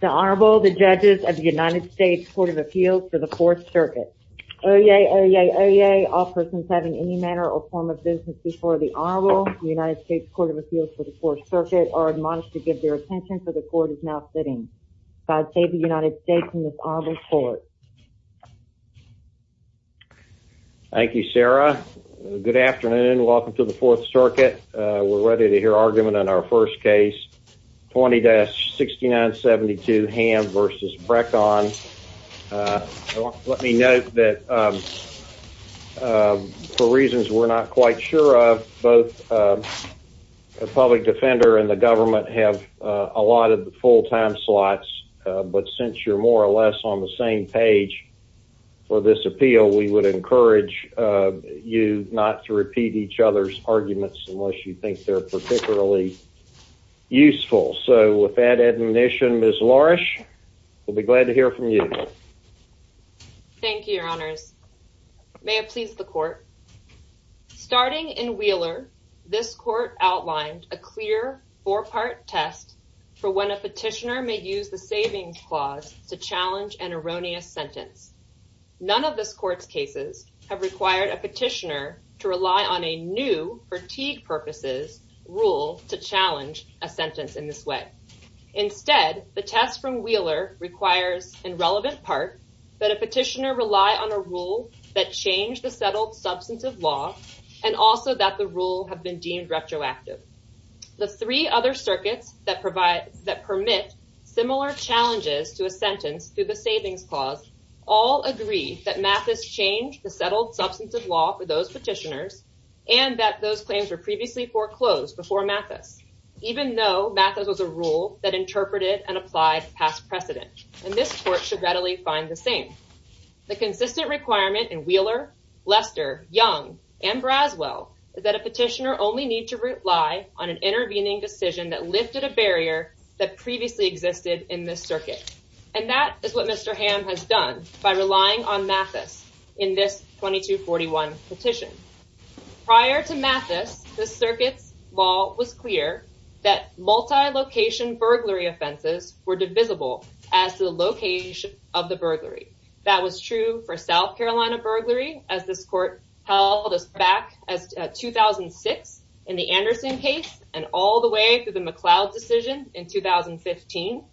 The Honorable, the Judges of the United States Court of Appeals for the Fourth Circuit. Oyez, oyez, oyez, all persons having any manner or form of business before the Honorable, the United States Court of Appeals for the Fourth Circuit, are admonished to give their attention, for the Court is now sitting. God save the United States and this Honorable Court. Thank you, Sarah. Good afternoon. Welcome to the Fourth Circuit. We're ready to hear argument on our first case, 20-6972 Ham v. Breckon. Let me note that for reasons we're not quite sure of, both the public defender and the government have allotted the full time slots, but since you're more or less on the same page for this appeal, we would encourage you not to repeat each other's arguments unless you think they're particularly useful. So, with that admonition, Ms. Lourish, we'll be glad to hear from you. Thank you, Your Honors. May it please the Court. Starting in Wheeler, this Court outlined a clear four-part test for when a petitioner may use the savings clause to challenge an erroneous sentence. None of this Court's cases have required a petitioner to rely on a new fatigue purposes rule to challenge a sentence in this way. Instead, the test from Wheeler requires, in relevant part, that a petitioner rely on a rule that changed the settled substantive law and also that the rule have been deemed retroactive. The three other circuits that permit similar challenges to a sentence through the savings clause all agree that Mathis changed the settled substantive law for those petitioners and that those claims were previously foreclosed before Mathis, even though Mathis was a rule that interpreted and applied past precedent, and this Court should readily find the same. The consistent requirement in Wheeler, Lester, Young, and Braswell is that a petitioner only need to rely on an intervening decision that lifted a barrier that previously existed in this circuit, and that is what Mr. Hamm has done by relying on Mathis in this 2241 petition. Prior to Mathis, this circuit's law was clear that multi-location burglary offenses were divisible as to the location of the burglary. That was true for South Carolina burglary, as this Court held back in 2006 in the Anderson case and all the way through the McLeod decision in 2015.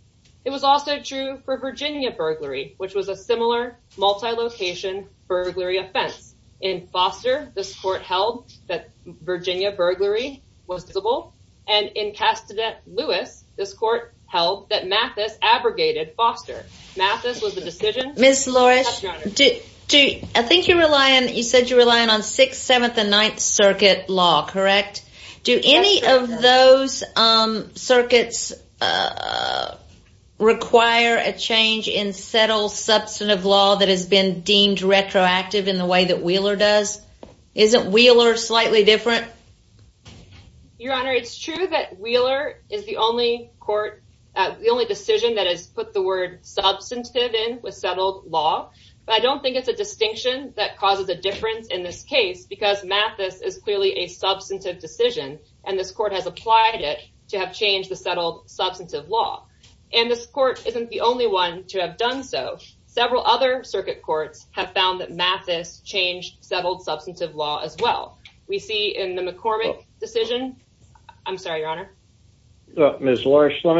It was also true for Virginia burglary, which was a similar multi-location burglary offense. In Foster, this Court held that Virginia burglary was divisible, and in Castadet-Lewis, this Court held that Mathis abrogated Foster. Ms. Loris, I think you said you're relying on 6th, 7th, and 9th Circuit law, correct? Do any of those circuits require a change in settled substantive law that has been deemed retroactive in the way that Wheeler does? Isn't Wheeler slightly different? Your Honor, it's true that Wheeler is the only decision that has put the word substantive in with settled law, but I don't think it's a distinction that causes a difference in this case because Mathis is clearly a substantive decision, and this Court has applied it to have changed the settled substantive law. And this Court isn't the only one to have done so. Several other circuit courts have found that Mathis changed settled substantive law as well. We see in the McCormick decision. I'm sorry, Your Honor. Ms. Loris, let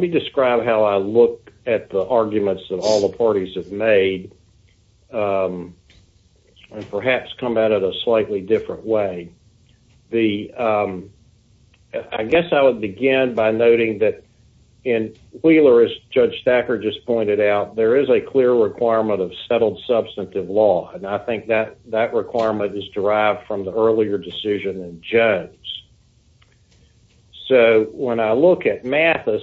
me describe how I look at the arguments that all the parties have made and perhaps come at it a slightly different way. I guess I would begin by noting that in Wheeler, as Judge Stacker just pointed out, there is a clear requirement of settled substantive law, and I think that requirement is derived from the earlier decision in Jones. So, when I look at Mathis,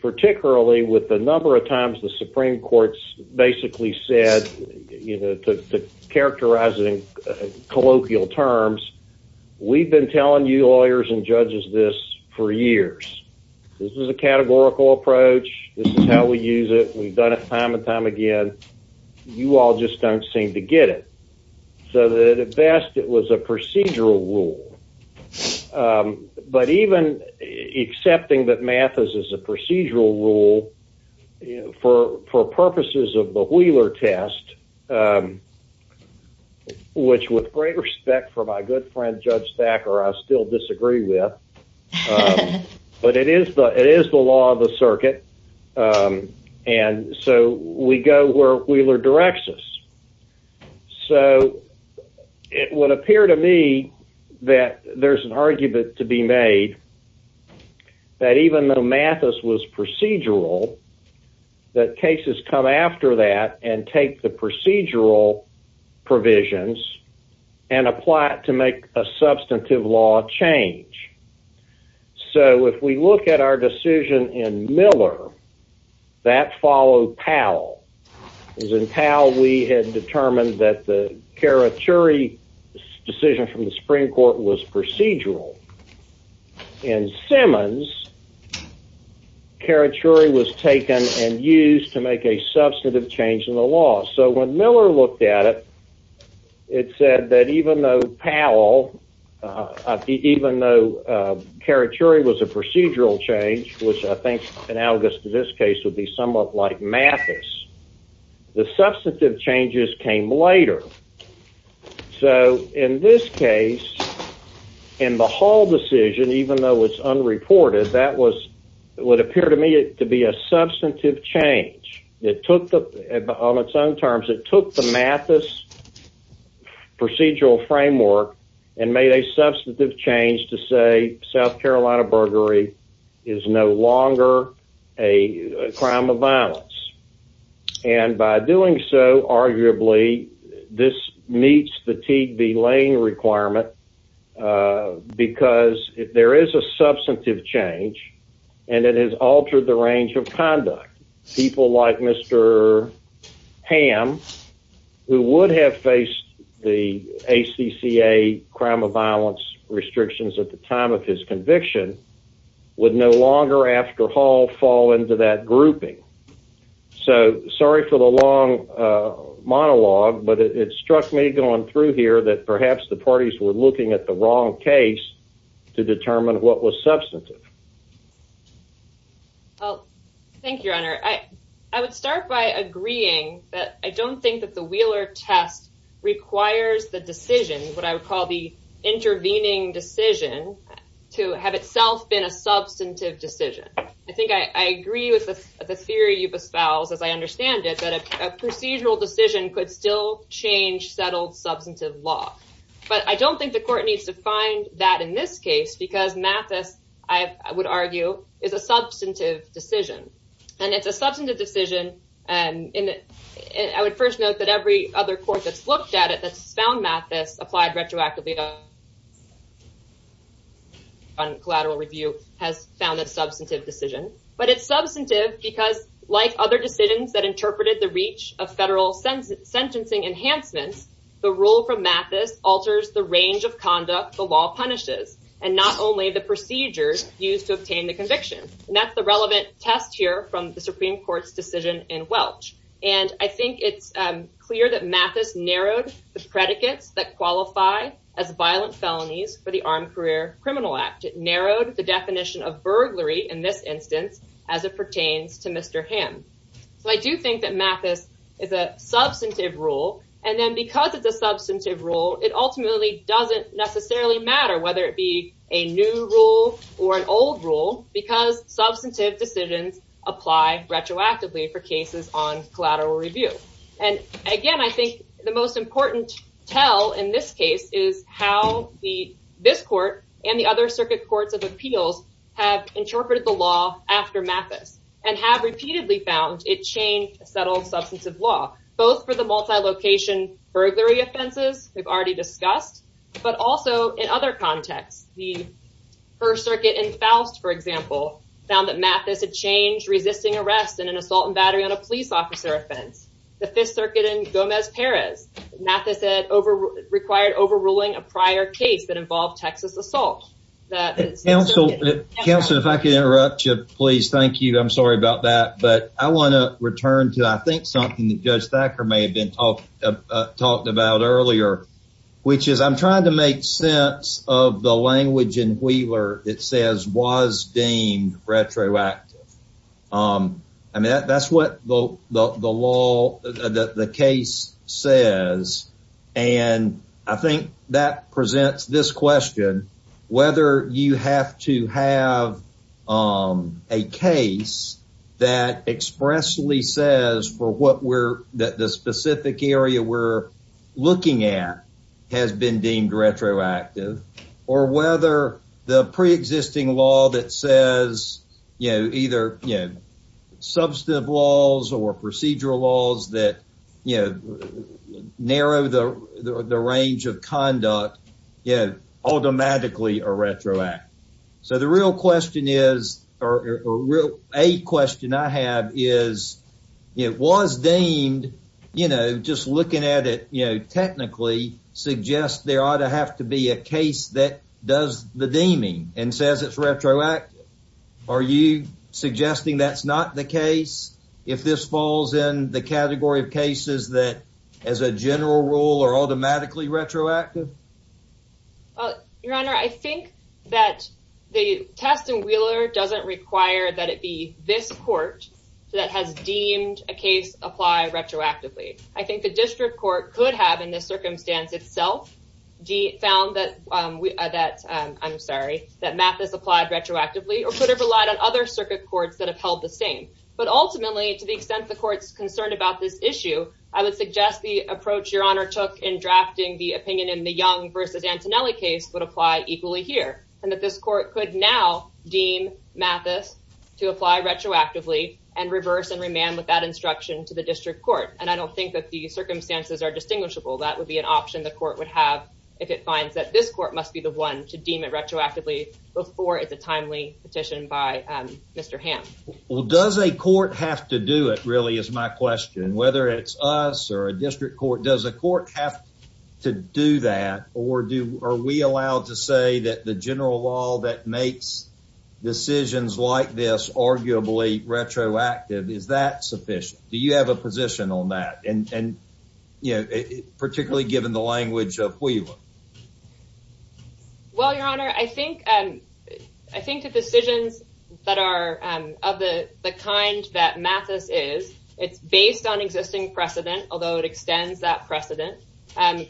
particularly with the number of times the Supreme Court basically said, you know, characterizing colloquial terms, we've been telling you lawyers and judges this for years. This is a categorical approach. This is how we use it. We've done it time and time again. You all just don't seem to get it. So, at best, it was a procedural rule. But even accepting that Mathis is a procedural rule for purposes of the Wheeler test, which with great respect for my good friend, Judge Stacker, I still disagree with, but it is the law of the circuit, and so we go where Wheeler directs us. So, it would appear to me that there's an argument to be made that even though Mathis was procedural, that cases come after that and take the procedural provisions and apply it to make a substantive law change. So, if we look at our decision in Miller, that followed Powell. As in Powell, we had determined that the Karachuri decision from the Supreme Court was procedural. In Simmons, Karachuri was taken and used to make a substantive change in the law. So, when Miller looked at it, it said that even though Karachuri was a procedural change, which I think analogous to this case would be somewhat like Mathis, the substantive changes came later. So, in this case, in the Hall decision, even though it's unreported, that would appear to me to be a substantive change. On its own terms, it took the Mathis procedural framework and made a substantive change to say South Carolina burglary is no longer a crime of violence. And by doing so, arguably, this meets the Teague B. Lane requirement because there is a substantive change, and it has altered the range of conduct. People like Mr. Hamm, who would have faced the ACCA crime of violence restrictions at the time of his conviction, would no longer, after Hall, fall into that grouping. So, sorry for the long monologue, but it struck me going through here that perhaps the parties were looking at the wrong case to determine what was substantive. Well, thank you, Your Honor. I would start by agreeing that I don't think that the Wheeler test requires the decision, what I would call the intervening decision, to have itself been a substantive decision. I think I agree with the theory you've espoused, as I understand it, that a procedural decision could still change settled substantive law. But I don't think the court needs to find that in this case because Mathis, I would argue, is a substantive decision. And it's a substantive decision, and I would first note that every other court that's looked at it that's found Mathis applied retroactively on collateral review has found that substantive decision. But it's substantive because, like other decisions that interpreted the reach of federal sentencing enhancements, the rule from Mathis alters the range of conduct the law punishes, and not only the procedures used to obtain the conviction. And that's the relevant test here from the Supreme Court's decision in Welch. And I think it's clear that Mathis narrowed the predicates that qualify as violent felonies for the Armed Career Criminal Act. It narrowed the definition of burglary in this instance as it pertains to Mr. Hamm. So I do think that Mathis is a substantive rule. And then because it's a substantive rule, it ultimately doesn't necessarily matter whether it be a new rule or an old rule because substantive decisions apply retroactively for cases on collateral review. And again, I think the most important tell in this case is how this court and the other settled substantive law, both for the multi-location burglary offenses we've already discussed, but also in other contexts. The First Circuit in Faust, for example, found that Mathis had changed resisting arrest in an assault and battery on a police officer offense. The Fifth Circuit in Gomez Perez, Mathis required overruling a prior case that involved Texas assault. Counsel, if I can interrupt you, please. Thank you. I'm sorry about that. But I want to return to, I think, something that Judge Thacker may have been talking about earlier, which is I'm trying to make sense of the language in Wheeler that says was deemed retroactive. I mean, that's what the law, the case says. And I think that presents this question, whether you have to have a case that expressly says for what the specific area we're looking at has been deemed retroactive or whether the range of conduct is automatically retroactive. So the real question is, or a question I have is, it was deemed, just looking at it technically, suggests there ought to have to be a case that does the deeming and says it's retroactive. Are you suggesting that's not the case? If this falls in the category of cases that, as a general rule, are automatically retroactive? Your Honor, I think that the test in Wheeler doesn't require that it be this court that has deemed a case apply retroactively. I think the district court could have, in this circumstance itself, found that Mathis applied retroactively or could have relied on other circuit courts that have held the same. But ultimately, to the extent the court's concerned about this issue, I would suggest the approach Your Honor took in drafting the opinion in the Young v. Antonelli case would apply equally here, and that this court could now deem Mathis to apply retroactively and reverse and remand with that instruction to the district court. And I don't think that the circumstances are distinguishable. That would be an option the court would have if it finds that this court must be the one to deem it retroactively before it's a timely petition by Mr. Hamm. Well, does a court have to do it, really, is my question. Whether it's us or a district court, does a court have to do that, or are we allowed to say that the general law that makes decisions like this arguably retroactive, is that sufficient? Do you have a position on that, particularly given the language of Wheeler? Well, Your Honor, I think the decisions that are of the kind that Mathis is, it's based on existing precedent, although it extends that precedent,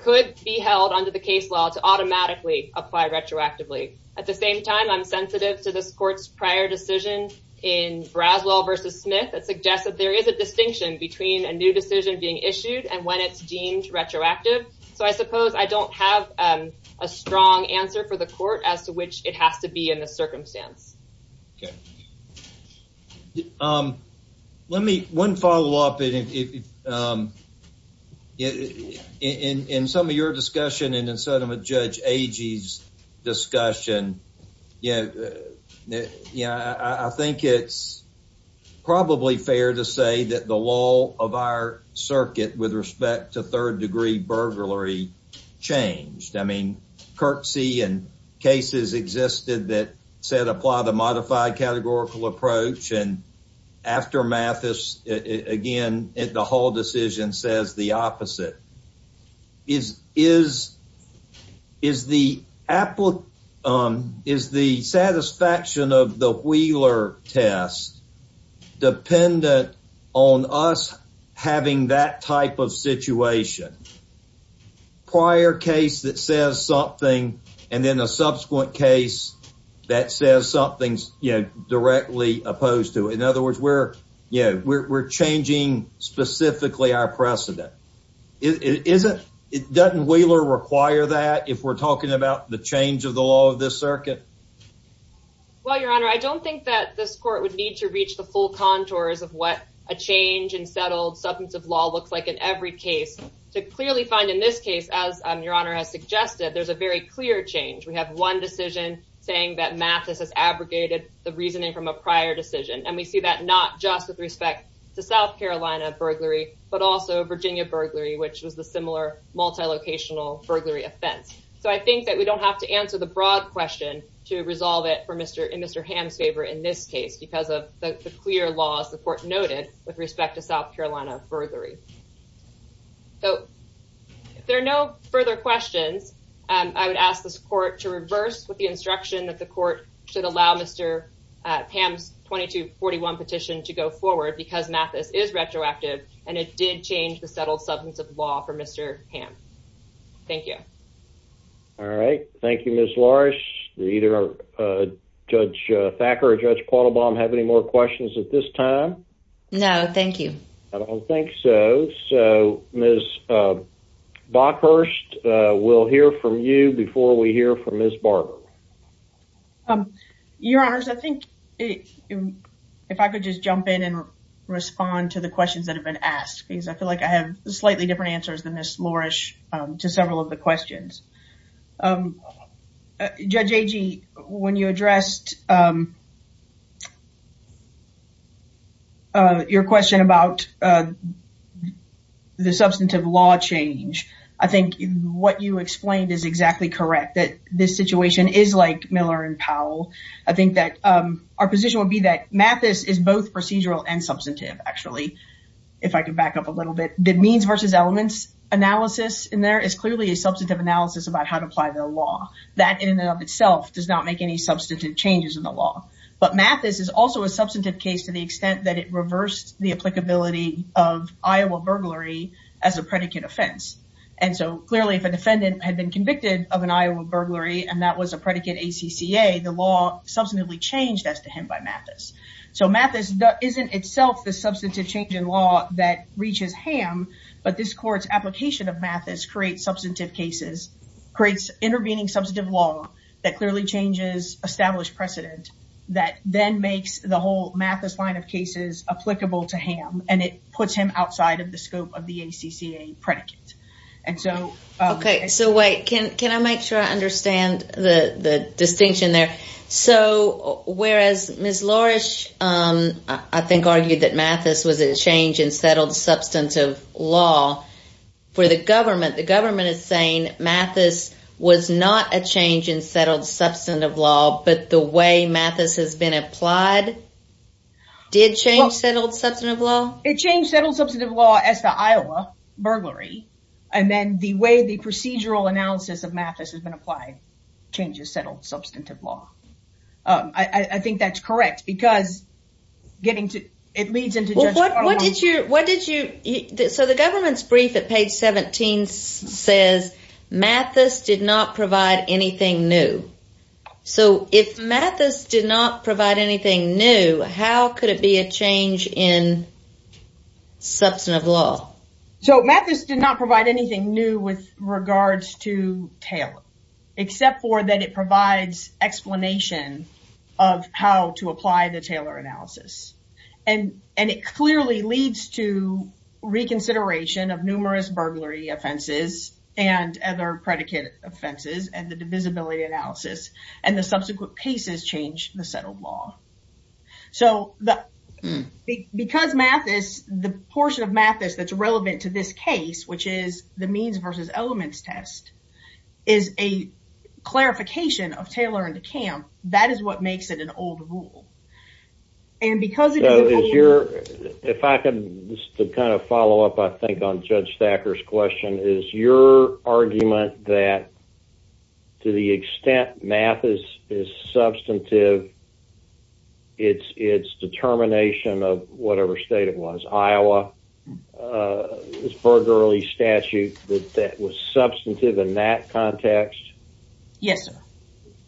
could be held under the case law to automatically apply retroactively. At the same time, I'm sensitive to this court's prior decision in Braswell v. Smith that suggests that there is a distinction between a new decision being issued and when it's deemed retroactive. So, I suppose I don't have a strong answer for the court as to which it has to be in the circumstance. Okay. Let me, one follow-up. In some of your discussion and in some of Judge Agee's discussion, I think it's probably fair to say that the law of our circuit with respect to third-degree burglary changed. I mean, curtsy and cases existed that said apply the modified categorical approach, and after Mathis, again, the whole decision says the opposite. Is the satisfaction of the Wheeler test dependent on us having that type of situation? Prior case that says something and then a subsequent case that says something, you know, directly opposed to it. In other words, we're changing specifically our precedent. Doesn't Wheeler require that if we're talking about the change of the law of this circuit? Well, Your Honor, I don't think that this court would need to reach the full contours of what a change in settled substantive law looks like in every case to clearly find in this case, as Your Honor has suggested, there's a very clear change. We have one decision saying that Mathis has abrogated the reasoning from a prior decision, and we see that not just with respect to South Carolina burglary, but also Virginia burglary, which was the similar multilocational burglary offense. So I think that we don't have to answer the broad question to resolve it for Mr. Ham's favor in this case because of the clear laws the court noted with respect to South Carolina burglary. So if there are no further questions, I would ask this court to reverse with the instruction that the court should allow Mr. Ham's 2241 petition to go forward because Mathis is retroactive, and it did change the settled substantive law for Mr. Ham. Thank you. All right. Thank you, Ms. Lorsch. Do either Judge Thacker or Judge Quattlebaum have any more questions at this time? No, thank you. I don't think so. All right. So Ms. Bockhurst, we'll hear from you before we hear from Ms. Barber. Your Honors, I think if I could just jump in and respond to the questions that have been asked because I feel like I have slightly different answers than Ms. Lorsch to several of the questions. Judge Agee, when you addressed your question about the substantive law change, I think what you explained is exactly correct, that this situation is like Miller and Powell. I think that our position would be that Mathis is both procedural and substantive, actually, if I could back up a little bit. The means versus elements analysis in there is clearly a substantive analysis about how to apply the law. That, in and of itself, does not make any substantive changes in the law. But Mathis is also a substantive case to the extent that it reversed the applicability of Iowa burglary as a predicate offense. And so, clearly, if a defendant had been convicted of an Iowa burglary and that was a predicate ACCA, the law substantively changed as to him by Mathis. So, Mathis isn't itself the substantive change in law that reaches Ham, but this court's application of Mathis creates substantive cases, creates intervening substantive law that clearly changes established precedent that then makes the whole Mathis line of cases applicable to Ham and it puts him outside of the scope of the ACCA predicate. And so... Okay, so wait, can I make sure I understand the distinction there? Okay. So, whereas Ms. Lorish, I think, argued that Mathis was a change in settled substantive law, for the government, the government is saying Mathis was not a change in settled substantive law, but the way Mathis has been applied did change settled substantive law? It changed settled substantive law as to Iowa burglary. And then the way the procedural analysis of Mathis has been applied changes settled substantive law. I think that's correct because getting to... It leads into... What did you... So, the government's brief at page 17 says Mathis did not provide anything new. So, if Mathis did not provide anything new, how could it be a change in substantive law? So, Mathis did not provide anything new with regards to Taylor, except for that it provides explanation of how to apply the Taylor analysis. And it clearly leads to reconsideration of numerous burglary offenses and other predicate offenses, and the divisibility analysis, and the subsequent cases change the settled law. So, because Mathis, the portion of Mathis that's relevant to this case, which is the clarification of Taylor and DeCamp, that is what makes it an old rule. And because it is... So, is your... If I can just kind of follow up, I think, on Judge Thacker's question, is your argument that to the extent Mathis is substantive, it's determination of whatever state it was, Iowa, this burglary statute, that that was substantive in that context? Yes, sir.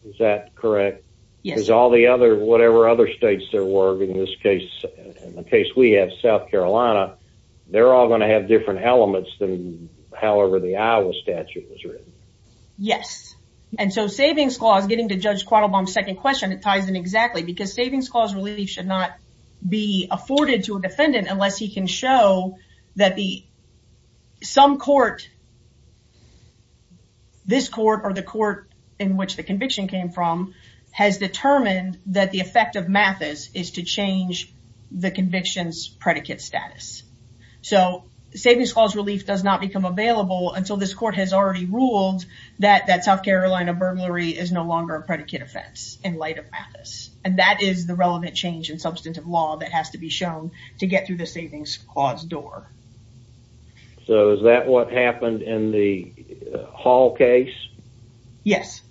Is that correct? Yes, sir. Because all the other, whatever other states there were, in this case, in the case we have, South Carolina, they're all going to have different elements than however the Iowa statute was written. Yes. And so, savings clause, getting to Judge Quattlebaum's second question, it ties in exactly. Because savings clause relief should not be afforded to a defendant unless he can show that some court, this court or the court in which the conviction came from, has determined that the effect of Mathis is to change the conviction's predicate status. So, savings clause relief does not become available until this court has already ruled that that South Carolina burglary is no longer a predicate offense in light of Mathis. And that is the relevant change in substantive law that has to be shown to get through the court. So, is that what happened in the Hall case? Yes.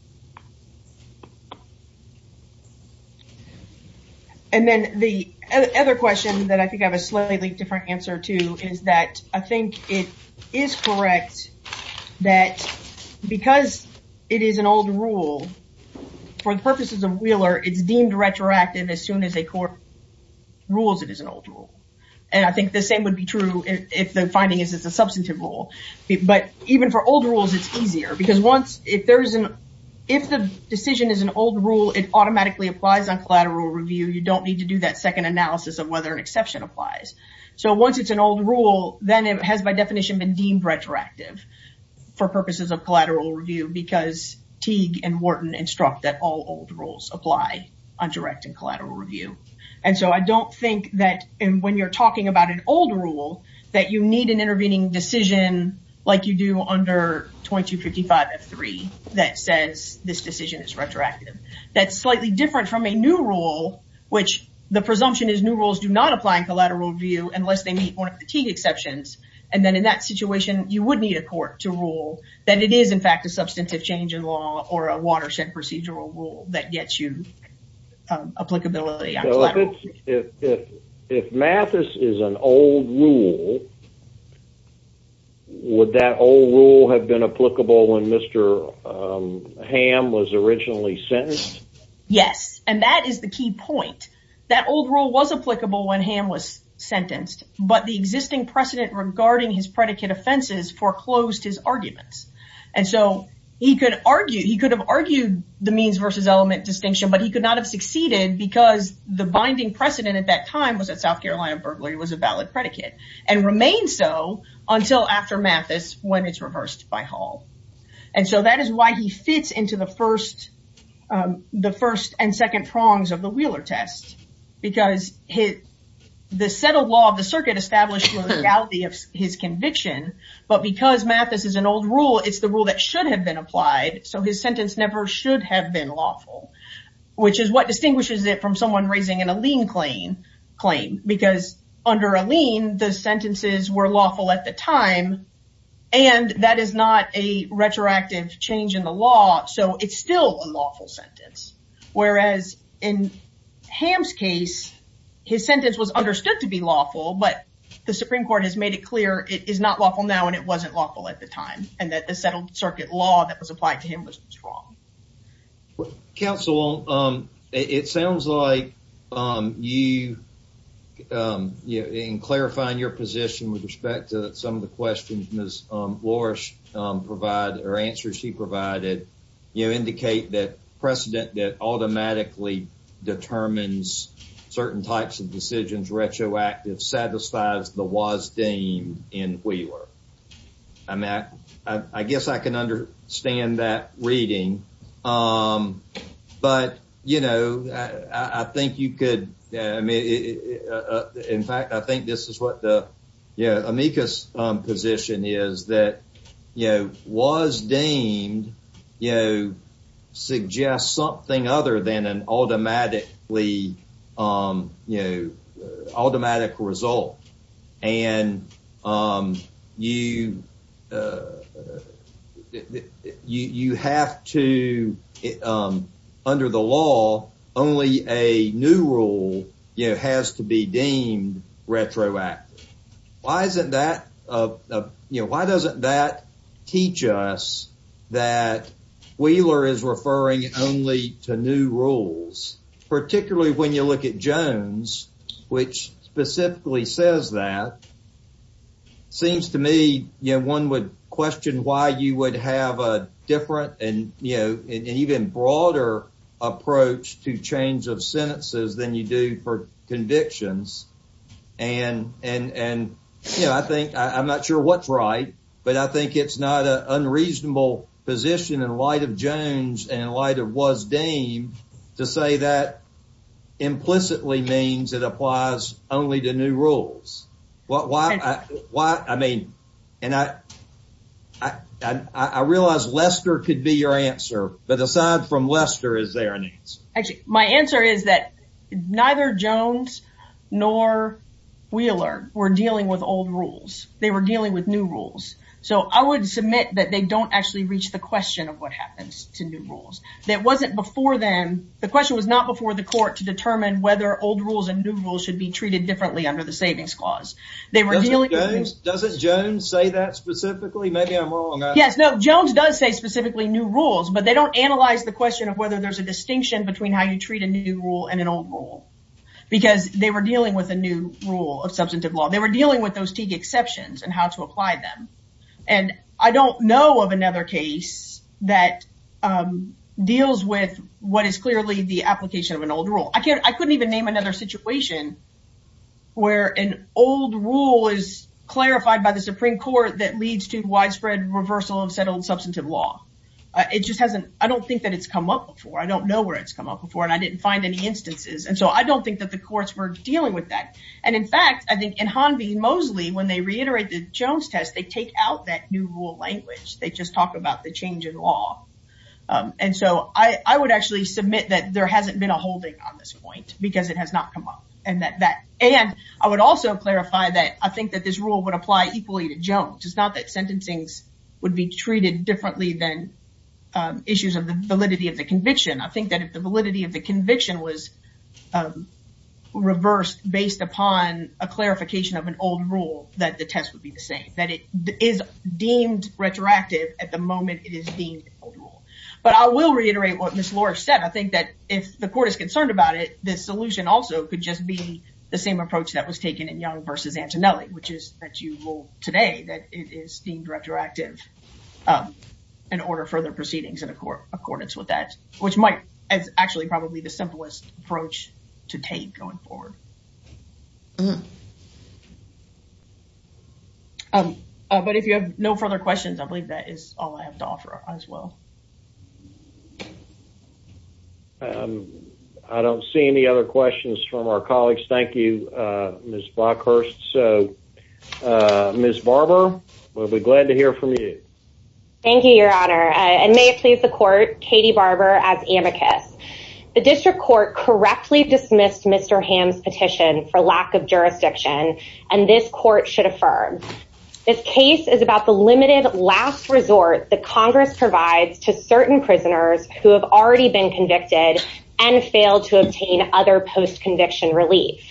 And then the other question that I think I have a slightly different answer to is that I think it is correct that because it is an old rule, for the purposes of Wheeler, it's deemed retroactive as soon as a court rules it is an old rule. And I think the same would be true if the finding is it's a substantive rule. But even for old rules, it's easier. Because if the decision is an old rule, it automatically applies on collateral review. You don't need to do that second analysis of whether an exception applies. So, once it's an old rule, then it has by definition been deemed retroactive for purposes of collateral review because Teague and Wharton instruct that all old rules apply on direct and collateral review. And so, I don't think that when you're talking about an old rule, that you need an intervening decision like you do under 2255F3 that says this decision is retroactive. That's slightly different from a new rule, which the presumption is new rules do not apply in collateral review unless they meet one of the Teague exceptions. And then in that situation, you would need a court to rule that it is in fact a substantive change in law or a watershed procedural rule that gets you applicability on collateral review. If Mathis is an old rule, would that old rule have been applicable when Mr. Ham was originally sentenced? Yes. And that is the key point. That old rule was applicable when Ham was sentenced. But the existing precedent regarding his predicate offenses foreclosed his arguments. And so, he could have argued the means versus element distinction, but he could not have succeeded because the binding precedent at that time was that South Carolina burglary was a valid predicate and remained so until after Mathis when it's reversed by Hall. And so, that is why he fits into the first and second prongs of the Wheeler test. Because the settled law of the circuit established the legality of his conviction, but because Mathis is an old rule, it's the rule that should have been applied. So, his sentence never should have been lawful, which is what distinguishes it from someone raising in a lien claim. Because under a lien, the sentences were lawful at the time and that is not a retroactive change in the law. So, it's still a lawful sentence. Whereas in Ham's case, his sentence was understood to be lawful, but the Supreme Court has made it clear it is not lawful now and it wasn't lawful at the time. And that the settled circuit law that was applied to him was wrong. Counsel, it sounds like you, in clarifying your position with respect to some of the questions Ms. Lorsch provided or answers she provided, you indicate that precedent that was deemed in Wheeler. I guess I can understand that reading. But, you know, I think you could, in fact, I think this is what the amicus position is that, you know, was deemed, you know, suggests something other than an automatically, you know, automatic result. And you have to, under the law, only a new rule, you know, has to be deemed retroactive. Why isn't that, you know, why doesn't that teach us that Wheeler is referring only to new rules? Particularly when you look at Jones, which specifically says that. Seems to me, you know, one would question why you would have a different and, you know, broader approach to change of sentences than you do for convictions. And, you know, I think, I'm not sure what's right, but I think it's not an unreasonable position in light of Jones and in light of what was deemed to say that implicitly means it applies only to new rules. Why, I mean, and I realize Lester could be your answer. But aside from Lester, is there an answer? Actually, my answer is that neither Jones nor Wheeler were dealing with old rules. They were dealing with new rules. So I would submit that they don't actually reach the question of what happens to new rules. That wasn't before then. The question was not before the court to determine whether old rules and new rules should be Does it Jones say that specifically? Maybe I'm wrong. Yes. No, Jones does say specifically new rules, but they don't analyze the question of whether there's a distinction between how you treat a new rule and an old rule because they were dealing with a new rule of substantive law. They were dealing with those Teague exceptions and how to apply them. And I don't know of another case that deals with what is clearly the application of an old rule. I can't I couldn't even name another situation where an old rule is clarified by the Supreme Court that leads to widespread reversal of settled substantive law. It just hasn't. I don't think that it's come up before. I don't know where it's come up before and I didn't find any instances. And so I don't think that the courts were dealing with that. And in fact, I think in Hanby Mosley, when they reiterate the Jones test, they take out that new rule language. They just talk about the change in law. And so I would actually submit that there hasn't been a holding on this point because it has not come up and that that and I would also clarify that I think that this rule would apply equally to Jones. It's not that sentencing's would be treated differently than issues of the validity of the conviction. I think that if the validity of the conviction was reversed based upon a clarification of an old rule, that the test would be the same, that it is deemed retroactive at the moment that it is deemed old rule. But I will reiterate what Ms. Lorsch said. I think that if the court is concerned about it, the solution also could just be the same approach that was taken in Young versus Antonelli, which is that you rule today that it is deemed retroactive in order for the proceedings in accordance with that, which might as actually probably the simplest approach to take going forward. But if you have no further questions, I believe that is all I have to offer as well. I don't see any other questions from our colleagues. Thank you, Ms. Blockhurst. So, Ms. Barber, we'll be glad to hear from you. Thank you, Your Honor. And may it please the court, Katie Barber as amicus. The district court correctly dismissed Mr. Hamm's petition for lack of jurisdiction, and this court should affirm. This case is about the limited last resort that Congress provides to certain prisoners who have already been convicted and failed to obtain other post-conviction relief.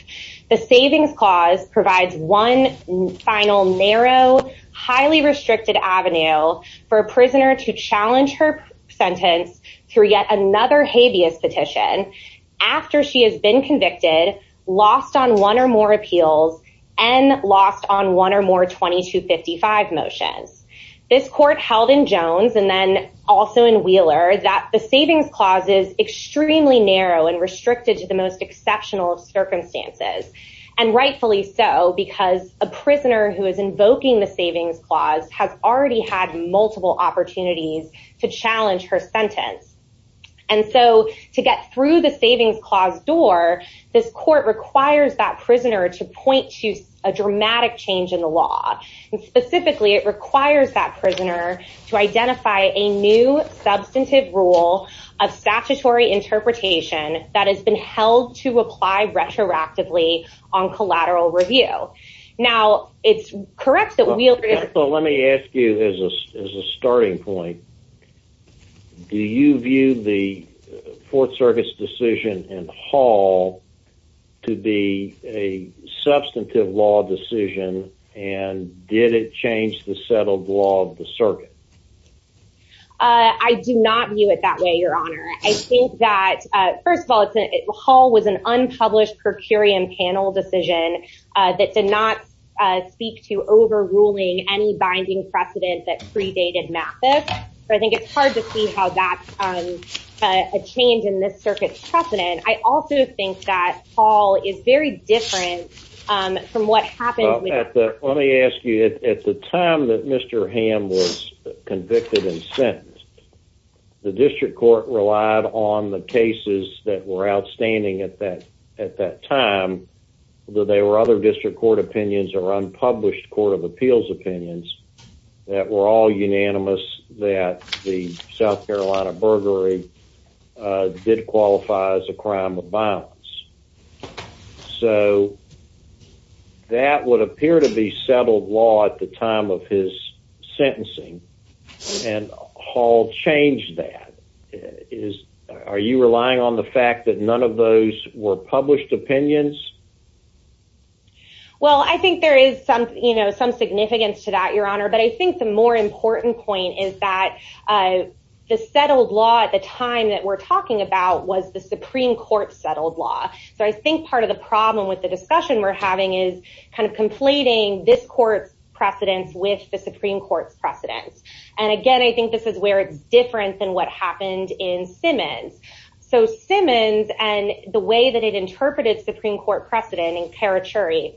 The Savings Clause provides one final narrow, highly restricted avenue for a prisoner to after she has been convicted, lost on one or more appeals, and lost on one or more 2255 motions. This court held in Jones and then also in Wheeler that the Savings Clause is extremely narrow and restricted to the most exceptional of circumstances, and rightfully so because a prisoner who is invoking the Savings Clause has already had multiple opportunities to challenge her sentence. And so, to get through the Savings Clause door, this court requires that prisoner to point to a dramatic change in the law. And specifically, it requires that prisoner to identify a new substantive rule of statutory interpretation that has been held to apply retroactively on collateral review. Now, it's correct that Wheeler— Let me ask you as a starting point. Do you view the Fourth Circuit's decision in Hall to be a substantive law decision, and did it change the settled law of the circuit? I do not view it that way, Your Honor. I think that, first of all, Hall was an unpublished per curiam panel decision that did not speak to overruling any binding precedent that predated Mathis. I think it's hard to see how that's a change in this circuit's precedent. I also think that Hall is very different from what happened— Let me ask you, at the time that Mr. Hamm was convicted and sentenced, the district court relied on the cases that were outstanding at that time, although there were other district court opinions or unpublished court of appeals opinions that were all unanimous that the South Carolina burglary did qualify as a crime of violence. So, that would appear to be settled law at the time of his sentencing, and Hall changed that. Are you relying on the fact that none of those were published opinions? Well, I think there is some significance to that, Your Honor, but I think the more important point is that the settled law at the time that we're talking about was the Supreme Court settled law. So, I think part of the problem with the discussion we're having is kind of conflating this court's precedents with the Supreme Court's precedents. And again, I think this is where it's different than what happened in Simmons. So, Simmons and the way that it interpreted Supreme Court precedent in Carachuri—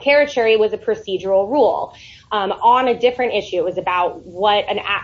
Carachuri was a procedural rule on a different issue. It was about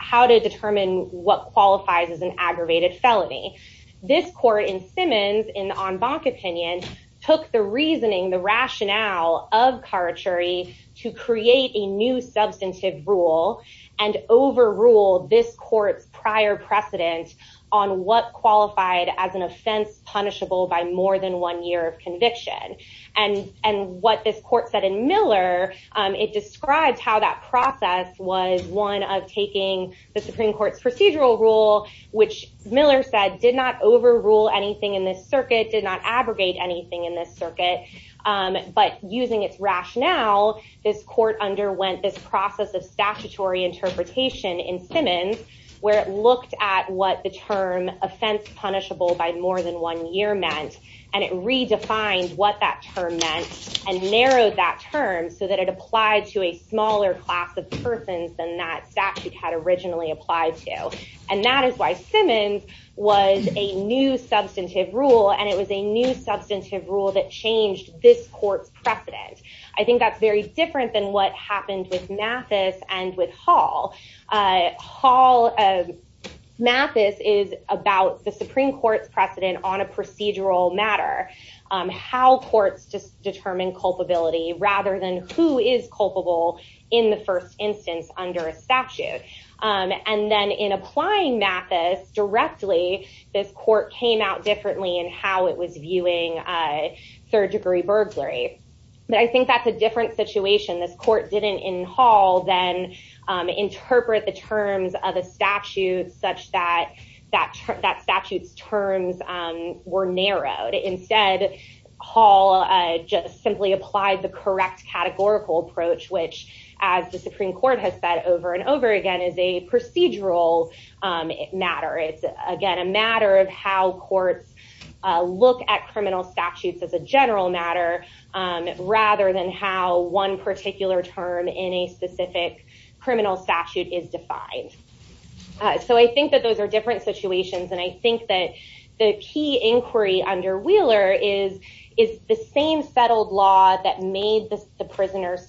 how to determine what qualifies as an aggravated felony. This court in Simmons, in the En Banc opinion, took the reasoning, the rationale of Carachuri to create a new substantive rule and overrule this court's prior precedent on what qualified as an offense punishable by more than one year of conviction. And what this court said in Miller, it describes how that process was one of taking the Supreme Court's procedural rule, which Miller said did not overrule anything in this circuit, did not abrogate anything in this circuit, but using its rationale, this court underwent this process of statutory interpretation in Simmons where it looked at what the term offense punishable by more than one year meant, and it redefined what that term meant and narrowed that term so that it applied to a smaller class of persons than that statute had originally applied to. And that is why Simmons was a new substantive rule, and it was a new substantive rule that changed this court's precedent. I think that's very different than what happened with Mathis and with Hall. Hall—Mathis is about the Supreme Court's precedent on a procedural matter, how courts determine culpability rather than who is culpable in the first instance under a statute. And then in applying Mathis directly, this court came out differently in how it was viewing third-degree burglary. But I think that's a different situation. This court didn't, in Hall, then interpret the terms of a statute such that that statute's terms were narrowed. Instead, Hall just simply applied the correct categorical approach, which, as the Supreme Court has said over and over again, is a procedural matter. It's, again, a matter of how courts look at criminal statutes as a general matter rather than how one particular term in a specific criminal statute is defined. So I think that those are different situations, and I think that the key inquiry under Wheeler is the same settled law that made the prisoner's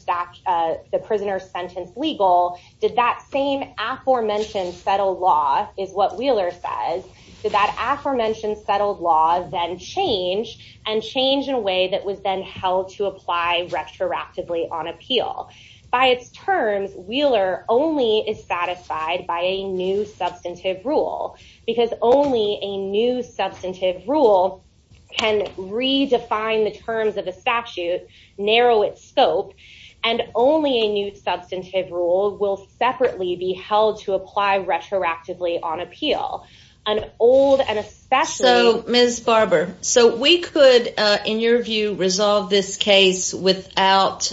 sentence legal. Did that same aforementioned settled law—is what Wheeler says—did that aforementioned settled law then change and change in a way that was then held to apply retroactively on appeal? By its terms, Wheeler only is satisfied by a new substantive rule because only a new substantive rule can redefine the terms of a statute, narrow its scope, and only a new substantive rule will separately be held to apply retroactively on appeal. An old and especially— So, Ms. Barber, so we could, in your view, resolve this case without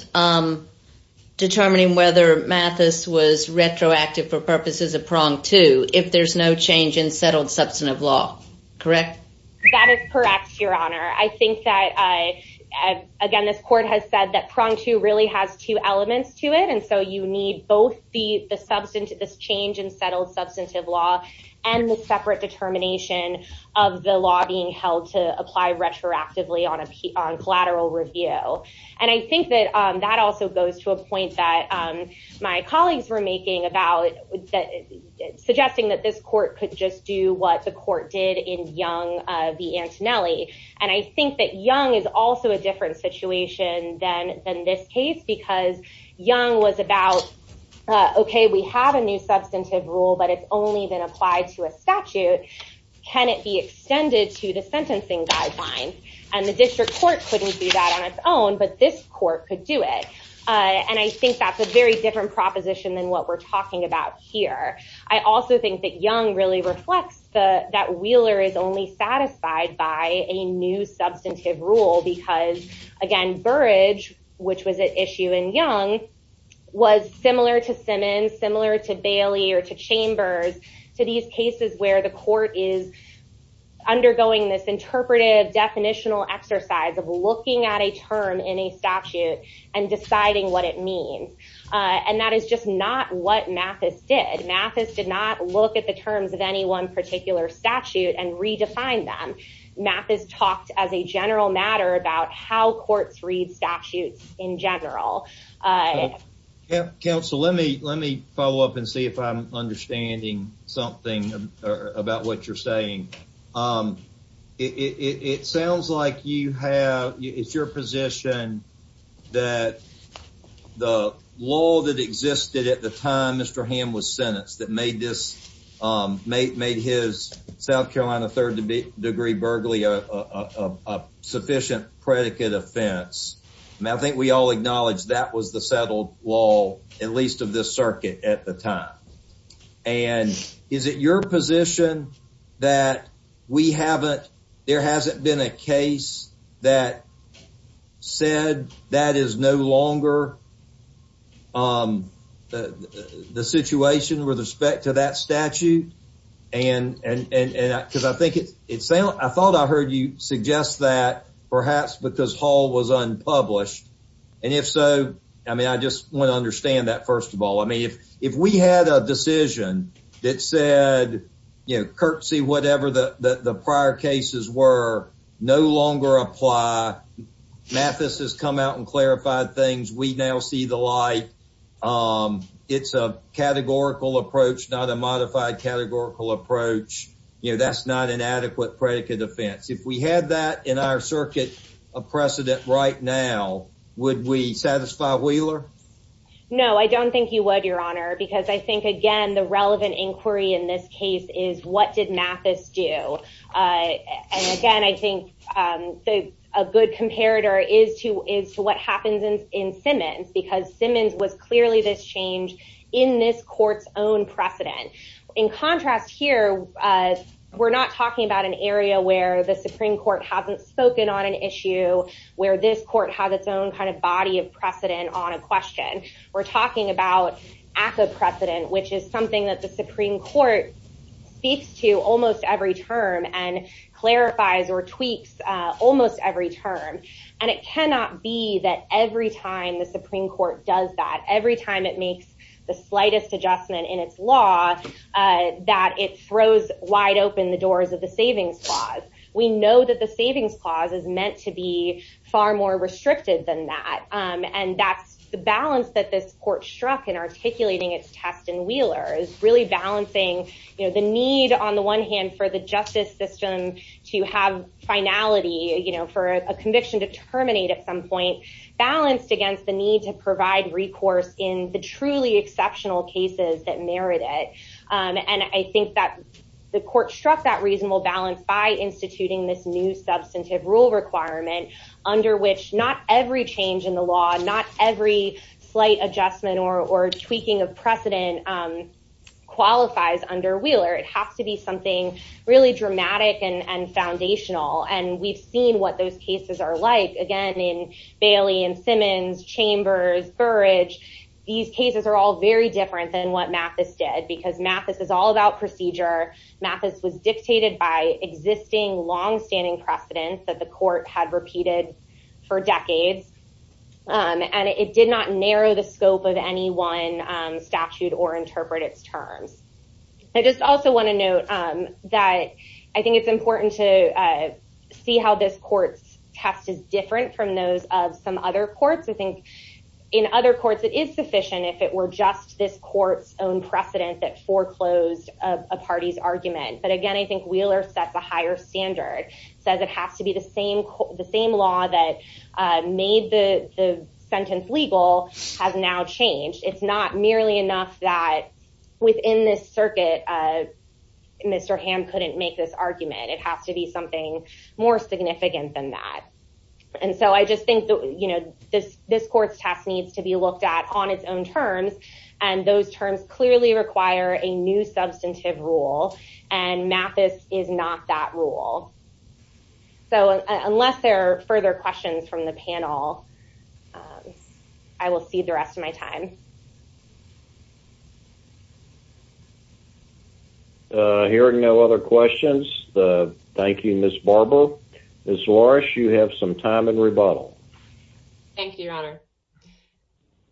determining whether Mathis was retroactive for purposes of prong two if there's no change in settled substantive law, correct? That is correct, Your Honor. I think that, again, this court has said that prong two really has two elements to it, and so you need both this change in settled substantive law and the separate determination of the law being held to apply retroactively on collateral review. And I think that that also goes to a point that my colleagues were making about suggesting that this court could just do what the court did in Young v. Antonelli. And I think that Young is also a different situation than this case because Young was about, okay, we have a new substantive rule, but it's only been applied to a statute. Can it be extended to the sentencing guidelines? And the district court couldn't do that on its own, but this court could do it. And I think that's a very different proposition than what we're talking about here. I also think that Young really reflects that Wheeler is only satisfied by a new substantive rule because, again, Burrage, which was an issue in Young, was similar to Simmons, similar to Bailey or to Chambers, to these cases where the court is undergoing this interpretive definitional exercise of looking at a term in a statute and deciding what it means. And that is just not what Mathis did. Mathis did not look at the terms of any one particular statute and redefine them. Mathis talked as a general matter about how courts read statutes in general. Counsel, let me follow up and see if I'm understanding something about what you're saying. It sounds like it's your position that the law that existed at the time Mr. Hamm was sentenced that made his South Carolina third degree burglary a sufficient predicate offense. I think we all acknowledge that was the settled law, at least of this circuit, at the time. And is it your position that there hasn't been a case that said that is no longer the situation with respect to that statute? I thought I heard you suggest that perhaps because Hall was unpublished. And if so, I just want to understand that, first of all. I mean, if we had a decision that said, you know, curtsy, whatever the prior cases were, no longer apply, Mathis has come out and clarified things, we now see the light. It's a categorical approach, not a modified categorical approach. You know, that's not an adequate predicate offense. If we had that in our circuit of precedent right now, would we satisfy Wheeler? No, I don't think you would, your honor, because I think, again, the relevant inquiry in this case is what did Mathis do? And again, I think a good comparator is to is to what happens in Simmons, because Simmons was clearly this change in this court's own precedent. In contrast here, we're not talking about an area where the Supreme Court hasn't spoken on an issue where this court has its own kind of body of precedent on a question. We're talking about ACCA precedent, which is something that the Supreme Court speaks to almost every term and clarifies or tweaks almost every term. And it cannot be that every time the Supreme Court does that, every time it makes the slightest adjustment in its law, that it throws wide open the doors of the savings clause. We know that the savings clause is meant to be far more restricted than that. And that's the balance that this court struck in articulating its test in Wheeler is really balancing the need, on the one hand, for the justice system to have finality, you know, for a conviction to terminate at some point, balanced against the need to provide recourse in the truly exceptional cases that merit it. And I think that the court struck that reasonable balance by instituting this new substantive rule requirement under which not every change in the law, not every slight adjustment or tweaking of precedent qualifies under Wheeler. It has to be something really dramatic and foundational. And we've seen what those cases are like, again, in Bailey and Simmons, Chambers, Burridge. These cases are all very different than what Mathis did, because Mathis is all about procedure. Mathis was dictated by existing longstanding precedent that the court had repeated for decades. And it did not narrow the scope of any one statute or interpret its terms. I just also want to note that I think it's important to see how this court's test is different from those of some other courts. I think in other courts, it is sufficient if it were just this court's own precedent that foreclosed a party's argument. But again, I think Wheeler sets a higher standard, says it has to be the same law that made the sentence legal has now changed. It's not merely enough that within this circuit, Mr. Hamm couldn't make this argument. It has to be something more significant than that. And so I just think this court's test needs to be looked at on its own terms. And those terms clearly require a new substantive rule. And Mathis is not that rule. So unless there are further questions from the panel, I will cede the rest of my time. Hearing no other questions, thank you, Ms. Barber. Ms. Loris, you have some time in rebuttal. Thank you, Your Honor.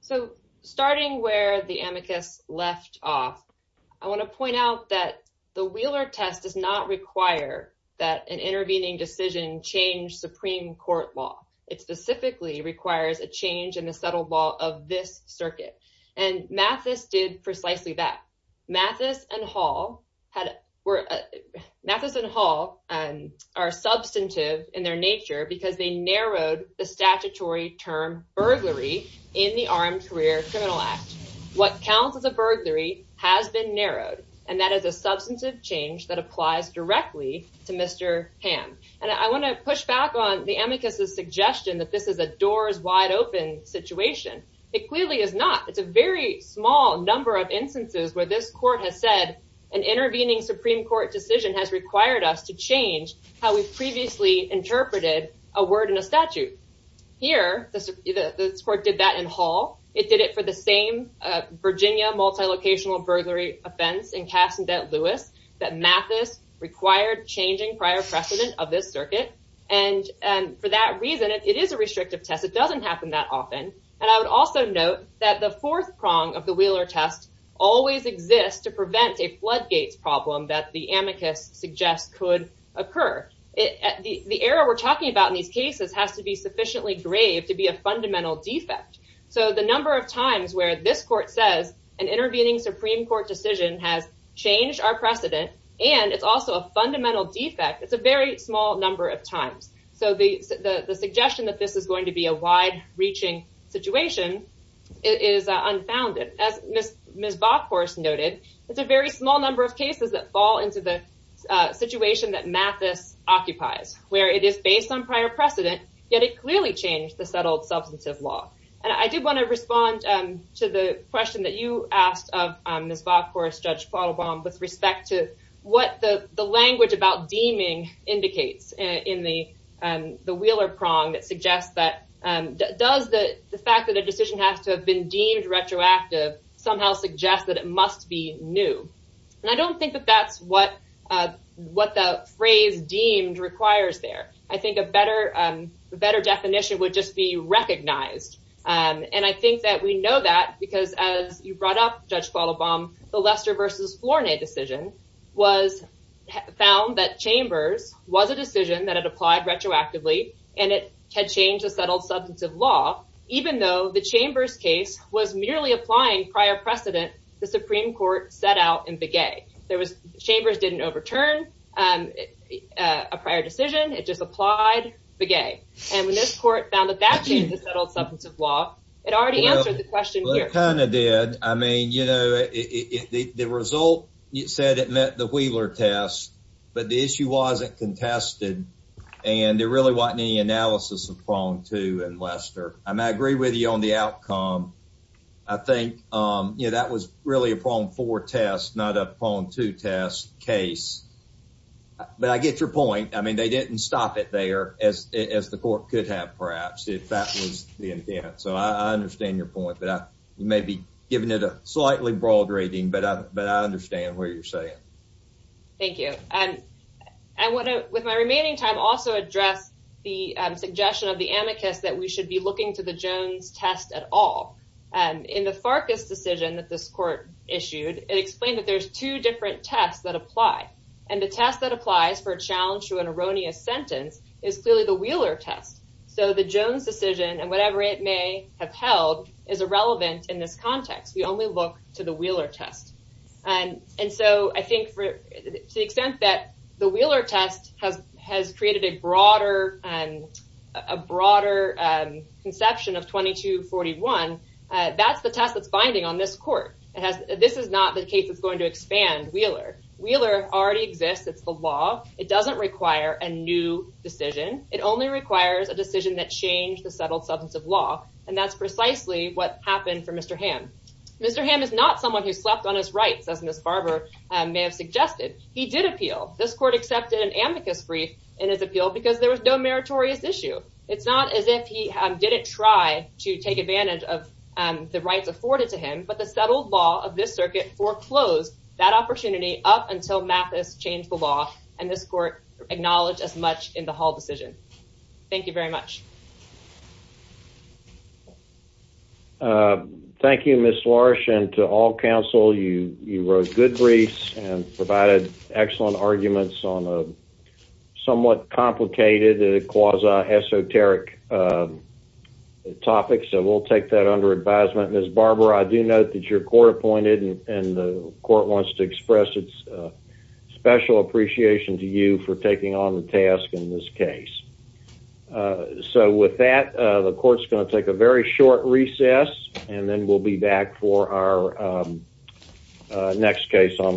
So starting where the amicus left off, I want to point out that the Wheeler test does not require that an intervening decision change Supreme Court law. It specifically requires a change in the settled law of this circuit. And Mathis did precisely that. Mathis and Hall are substantive in their nature because they narrowed the statutory term burglary in the Armed Career Criminal Act. What counts as a burglary has been narrowed, and that is a substantive change that applies directly to Mr. Hamm. And I want to push back on the amicus's suggestion that this is a doors wide open situation. It clearly is not. It's a very small number of instances where this court has said an intervening Supreme Court decision has required us to change how we've previously interpreted a word in a statute. Here, this court did that in Hall. It did it for the same Virginia multilocational burglary offense in Cass and Dent Lewis that Mathis required changing prior precedent of this circuit. And for that reason, it is a restrictive test. It doesn't happen that often. And I would also note that the fourth prong of the Wheeler test always exists to prevent a floodgates problem that the amicus suggests could occur. The error we're talking about in these cases has to be sufficiently grave to be a fundamental defect. So the number of times where this court says an intervening Supreme Court decision has changed our precedent, and it's also a fundamental defect, it's a very small number of times. So the suggestion that this is going to be a wide reaching situation is unfounded. As Ms. Bockhorst noted, it's a very small number of cases that fall into the situation that Mathis occupies, where it is based on prior precedent, yet it clearly changed the settled substantive law. And I do want to respond to the question that you asked of Ms. Bockhorst, Judge Plotelbaum, with respect to what the language about deeming indicates in the Wheeler prong that suggests that does the fact that a decision has to have been deemed retroactive somehow suggest that it must be new. And I don't think that that's what the phrase deemed requires there. I think a better definition would just be recognized. And I think that we know that because as you brought up, Judge Plotelbaum, the Lester versus Flournay decision was found that Chambers was a decision that had applied retroactively, and it had changed the settled substantive law, even though the Chambers case was merely applying prior precedent the Supreme Court set out in Begay. Chambers didn't overturn a prior decision, it just applied Begay. And when this court found that that changed the settled substantive law, it already answered the question here. Well, it kind of did. I mean, you know, the result said it met the Wheeler test, but the issue wasn't contested, and there really wasn't any analysis of prong two in Lester. And I agree with you on the outcome. I think, you know, that was really a prong four test, not a prong two test case. But I get your point. I mean, they didn't stop it there, as the court could have, perhaps, if that was the intent. So I understand your point. But you may be giving it a slightly broad rating, but I understand what you're saying. Thank you. I want to, with my remaining time, also address the suggestion of the amicus that we should be looking to the Jones test at all. In the Farkas decision that this court issued, it explained that there's two different tests that apply. And the test that applies for a challenge to an erroneous sentence is clearly the Wheeler test. So the Jones decision, and whatever it may have held, is irrelevant in this context. We only look to the Wheeler test. And so I think, to the extent that the Wheeler test has created a broader conception of 2241, that's the test that's binding on this court. This is not the case that's going to expand Wheeler. Wheeler already exists. It's the law. It doesn't require a new decision. It only requires a decision that changed the settled substance of law. And that's precisely what happened for Mr. Hamm. Mr. Hamm is not someone who slept on his rights, as Ms. Barber may have suggested. He did appeal. This court accepted an amicus brief in his appeal because there was no meritorious issue. It's not as if he didn't try to take advantage of the rights afforded to him. But the settled law of this circuit foreclosed that opportunity up until Mathis changed the Thank you very much. Thank you, Ms. Lorsch. And to all counsel, you wrote good briefs and provided excellent arguments on a somewhat complicated, quasi-esoteric topic. So we'll take that under advisement. Ms. Barber, I do note that you're court-appointed, and the court wants to express its special appreciation to you for taking on the task in this case. So with that, the court's going to take a very short recess, and then we'll be back for our next case on the docket.